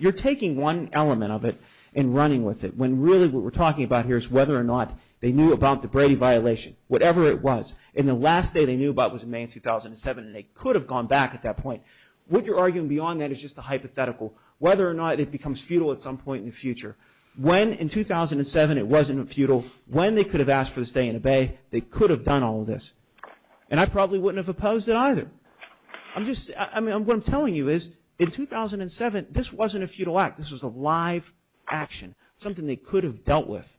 you're taking one element of it and running with it, when really what we're talking about here is whether or not they knew about the Brady violation, whatever it was, and the last day they knew about it was in May of 2007 and they could have gone back at that point. What you're arguing beyond that is just a hypothetical, whether or not it becomes futile at some point in the future. When in 2007 it wasn't futile, when they could have asked for the stay and obey, they could have done all of this. And I probably wouldn't have opposed it either. I'm just, I mean, what I'm telling you is in 2007 this wasn't a futile act. This was a live action, something they could have dealt with.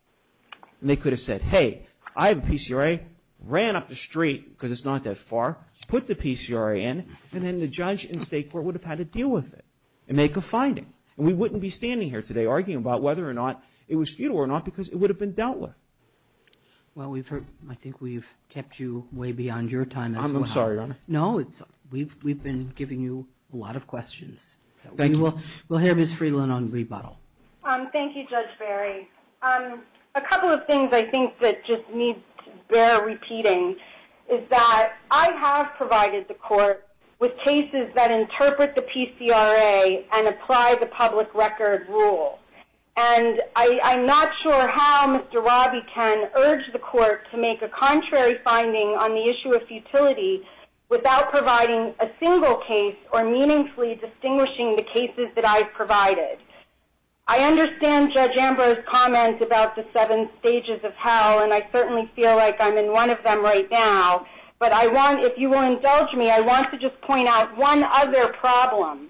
And they could have said, hey, I have a PCRA, ran up the street because it's not that far, put the PCRA in, and then the judge and state court would have had to deal with it and make a finding. And we wouldn't be standing here today arguing about whether or not it was futile or not because it would have been dealt with. Well, we've heard, I think we've kept you way beyond your time as well. I'm sorry, Your Honor. No, we've been giving you a lot of questions. Thank you. We'll have Ms. Friedland on rebuttal. Thank you, Judge Barry. A couple of things I think that just need to bear repeating is that I have provided the court with cases that interpret the PCRA and apply the public record rule. And I'm not sure how Mr. Roby can urge the court to make a contrary finding on the issue of futility without providing a single case or meaningfully distinguishing the cases that I've provided. I understand Judge Ambrose's comments about the seven stages of hell, and I certainly feel like I'm in one of them right now. But if you will indulge me, I want to just point out one other problem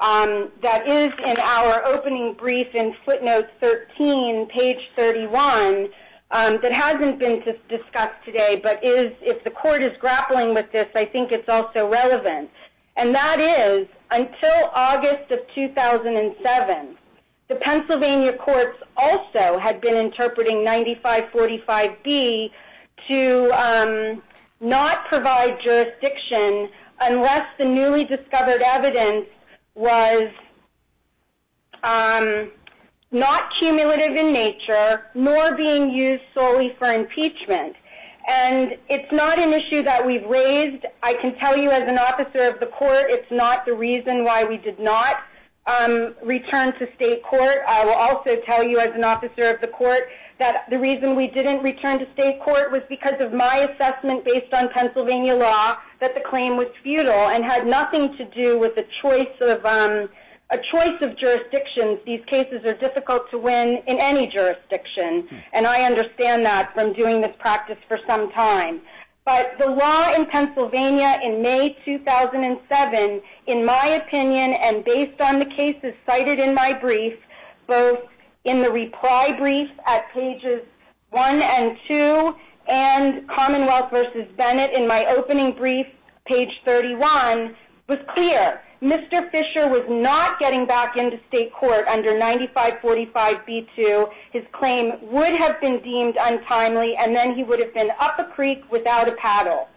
that is in our opening brief in footnote 13, page 31, that hasn't been discussed today, but if the court is grappling with this, I think it's also relevant. And that is, until August of 2007, the Pennsylvania courts also had been interpreting 9545B to not provide jurisdiction unless the newly discovered evidence was not cumulative in nature nor being used solely for impeachment. And it's not an issue that we've raised. I can tell you as an officer of the court it's not the reason why we did not return to state court. I will also tell you as an officer of the court that the reason we didn't return to state court was because of my assessment based on Pennsylvania law that the claim was futile and had nothing to do with a choice of jurisdictions. These cases are difficult to win in any jurisdiction, and I understand that from doing this practice for some time. But the law in Pennsylvania in May 2007, in my opinion, and based on the cases cited in my brief, both in the reply brief at pages 1 and 2, and Commonwealth v. Bennett in my opening brief, page 31, was clear. Mr. Fisher was not getting back into state court under 9545B2. His claim would have been deemed untimely, and then he would have been up a creek without a paddle.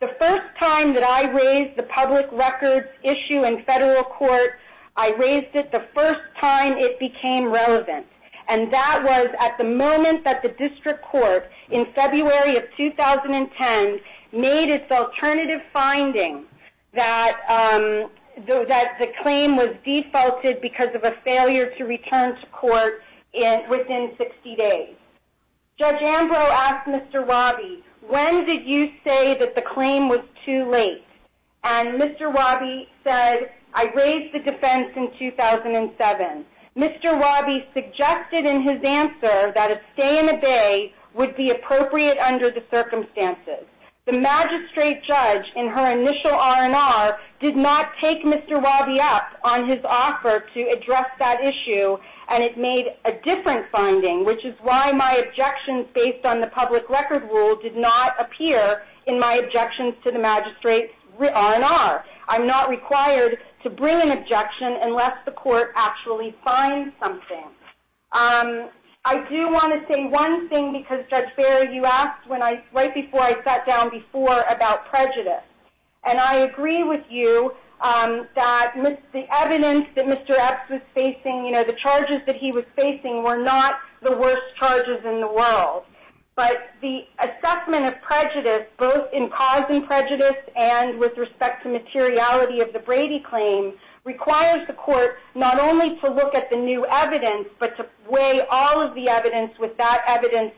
The first time that I raised the public records issue in federal court, I raised it the first time it became relevant. And that was at the moment that the district court in February of 2010 made its alternative finding that the claim was defaulted because of a failure to return to court within 60 days. Judge Ambrose asked Mr. Wabi, when did you say that the claim was too late? And Mr. Wabi said, I raised the defense in 2007. Mr. Wabi suggested in his answer that a stay in the Bay would be appropriate under the circumstances. The magistrate judge in her initial R&R did not take Mr. Wabi up on his offer to address that issue, and it made a different finding, which is why my objections based on the public record rule did not appear in my objections to the magistrate R&R. I'm not required to bring an objection unless the court actually finds something. I do want to say one thing because, Judge Barry, you asked right before I sat down before about prejudice. And I agree with you that the evidence that Mr. Epps was facing, you know, the charges that he was facing were not the worst charges in the world. But the assessment of prejudice, both in causing prejudice and with respect to materiality of the Brady claim, requires the court not only to look at the new evidence but to weigh all of the evidence with that evidence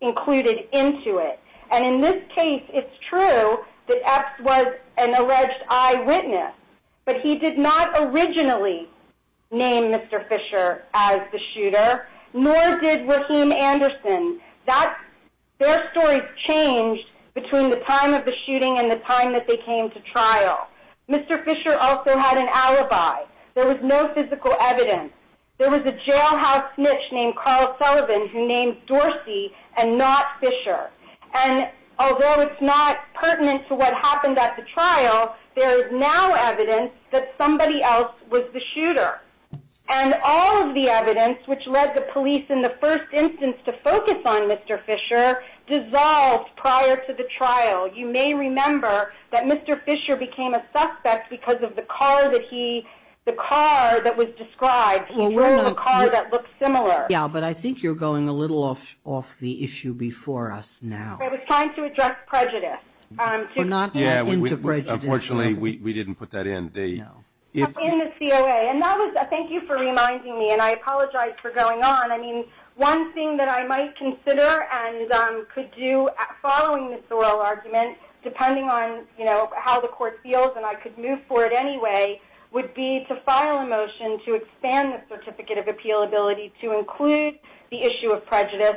included into it. And in this case, it's true that Epps was an alleged eyewitness. But he did not originally name Mr. Fisher as the shooter, nor did Raheem Anderson. Their stories changed between the time of the shooting and the time that they came to trial. Mr. Fisher also had an alibi. There was no physical evidence. There was a jailhouse snitch named Carl Sullivan who named Dorsey and not Fisher. And although it's not pertinent to what happened at the trial, there is now evidence that somebody else was the shooter. And all of the evidence, which led the police in the first instance to focus on Mr. Fisher, dissolved prior to the trial. You may remember that Mr. Fisher became a suspect because of the car that was described. He drove a car that looked similar. Yeah, but I think you're going a little off the issue before us now. I was trying to address prejudice. Unfortunately, we didn't put that in. In the COA. And thank you for reminding me, and I apologize for going on. I mean, one thing that I might consider and could do following this oral argument, depending on how the court feels and I could move forward anyway, would be to file a motion to expand the Certificate of Appeal ability to include the issue of prejudice.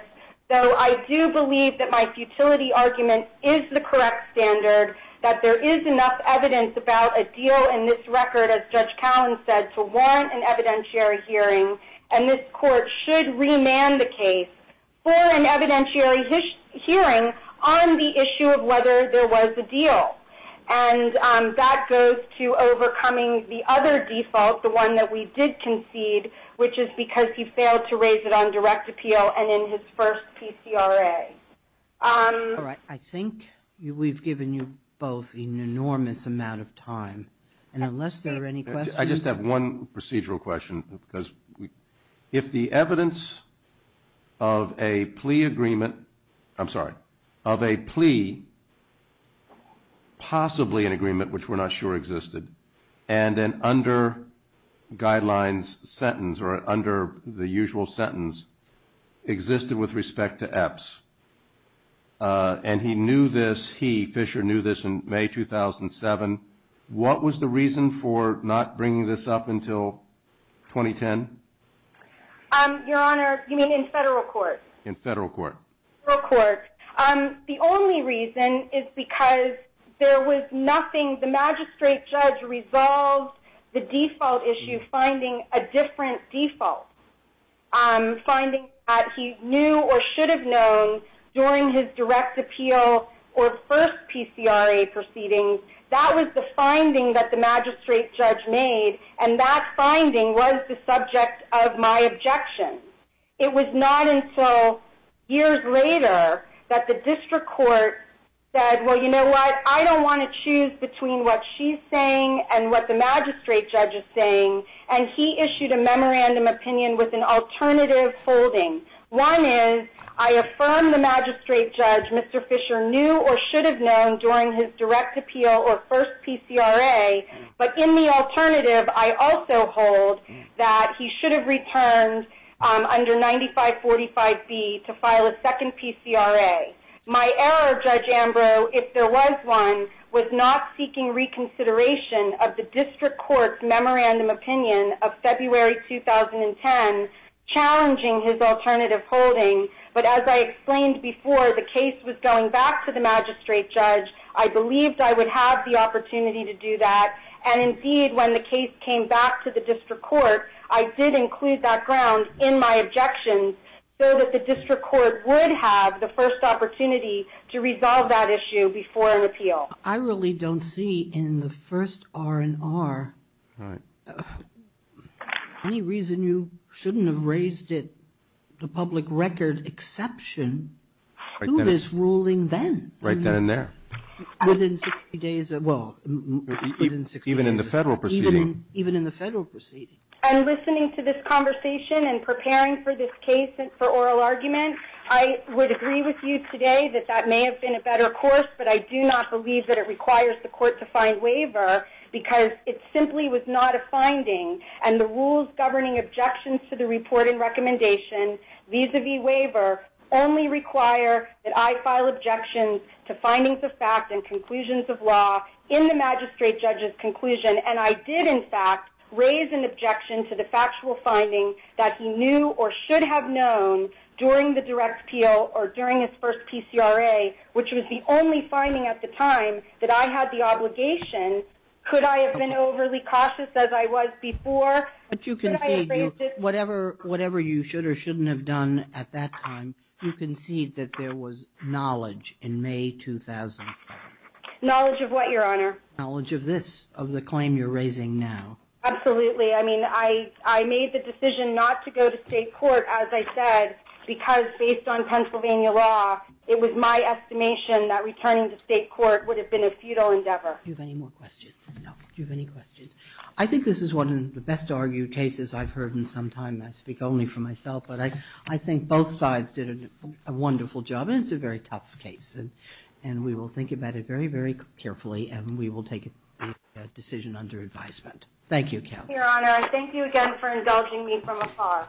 So I do believe that my futility argument is the correct standard, that there is enough evidence about a deal in this record, as Judge Cowen said, to warrant an evidentiary hearing, and this court should remand the case for an evidentiary hearing on the issue of whether there was a deal. And that goes to overcoming the other default, the one that we did concede, which is because he failed to raise it on direct appeal and in his first PCRA. All right. I think we've given you both an enormous amount of time. And unless there are any questions. I just have one procedural question. Because if the evidence of a plea agreement, I'm sorry, of a plea, possibly an agreement, which we're not sure existed, and then under guidelines sentence or under the usual sentence, existed with respect to EPS, and he knew this, he, Fisher, knew this in May 2007, what was the reason for not bringing this up until 2010? Your Honor, you mean in federal court? In federal court. Federal court. The only reason is because there was nothing, the magistrate judge resolved the default issue, finding a different default. Finding that he knew or should have known during his direct appeal or first PCRA proceedings, that was the finding that the magistrate judge made, and that finding was the subject of my objection. It was not until years later that the district court said, well, you know what, I don't want to choose between what she's saying and what the magistrate judge is saying, and he issued a memorandum opinion with an alternative holding. One is I affirm the magistrate judge, Mr. Fisher, knew or should have known during his direct appeal or first PCRA, but in the alternative I also hold that he should have returned under 9545B to file a second PCRA. My error, Judge Ambrose, if there was one, was not seeking reconsideration of the district court's memorandum opinion of February 2010, challenging his alternative holding, but as I explained before, the case was going back to the magistrate judge. I believed I would have the opportunity to do that, and indeed when the case came back to the district court, I did include that ground in my objections so that the district court would have the first opportunity to resolve that issue before an appeal. I really don't see in the first R&R any reason you shouldn't have raised it the public record exception to this ruling then. Right then and there. Within 60 days, well, within 60 days. Even in the federal proceeding. Even in the federal proceeding. I'm listening to this conversation and preparing for this case for oral argument. I would agree with you today that that may have been a better course, but I do not believe that it requires the court to find waiver because it simply was not a finding, and the rules governing objections to the report and recommendation vis-a-vis waiver only require that I file objections to findings of fact and conclusions of law in the magistrate judge's conclusion, and I did, in fact, raise an objection to the factual finding that he knew or should have known during the direct appeal or during his first PCRA, which was the only finding at the time that I had the obligation. Could I have been overly cautious as I was before? Whatever you should or shouldn't have done at that time, you concede that there was knowledge in May 2005. Knowledge of what, Your Honor? Knowledge of this, of the claim you're raising now. Absolutely. I mean, I made the decision not to go to state court, as I said, because based on Pennsylvania law, it was my estimation that returning to state court would have been a futile endeavor. Do you have any more questions? No. Do you have any questions? I think this is one of the best argued cases I've heard in some time. I speak only for myself, but I think both sides did a wonderful job, and it's a very tough case, and we will think about it very, very carefully, and we will take a decision under advisement. Thank you, Kathy. Your Honor, thank you again for indulging me from afar.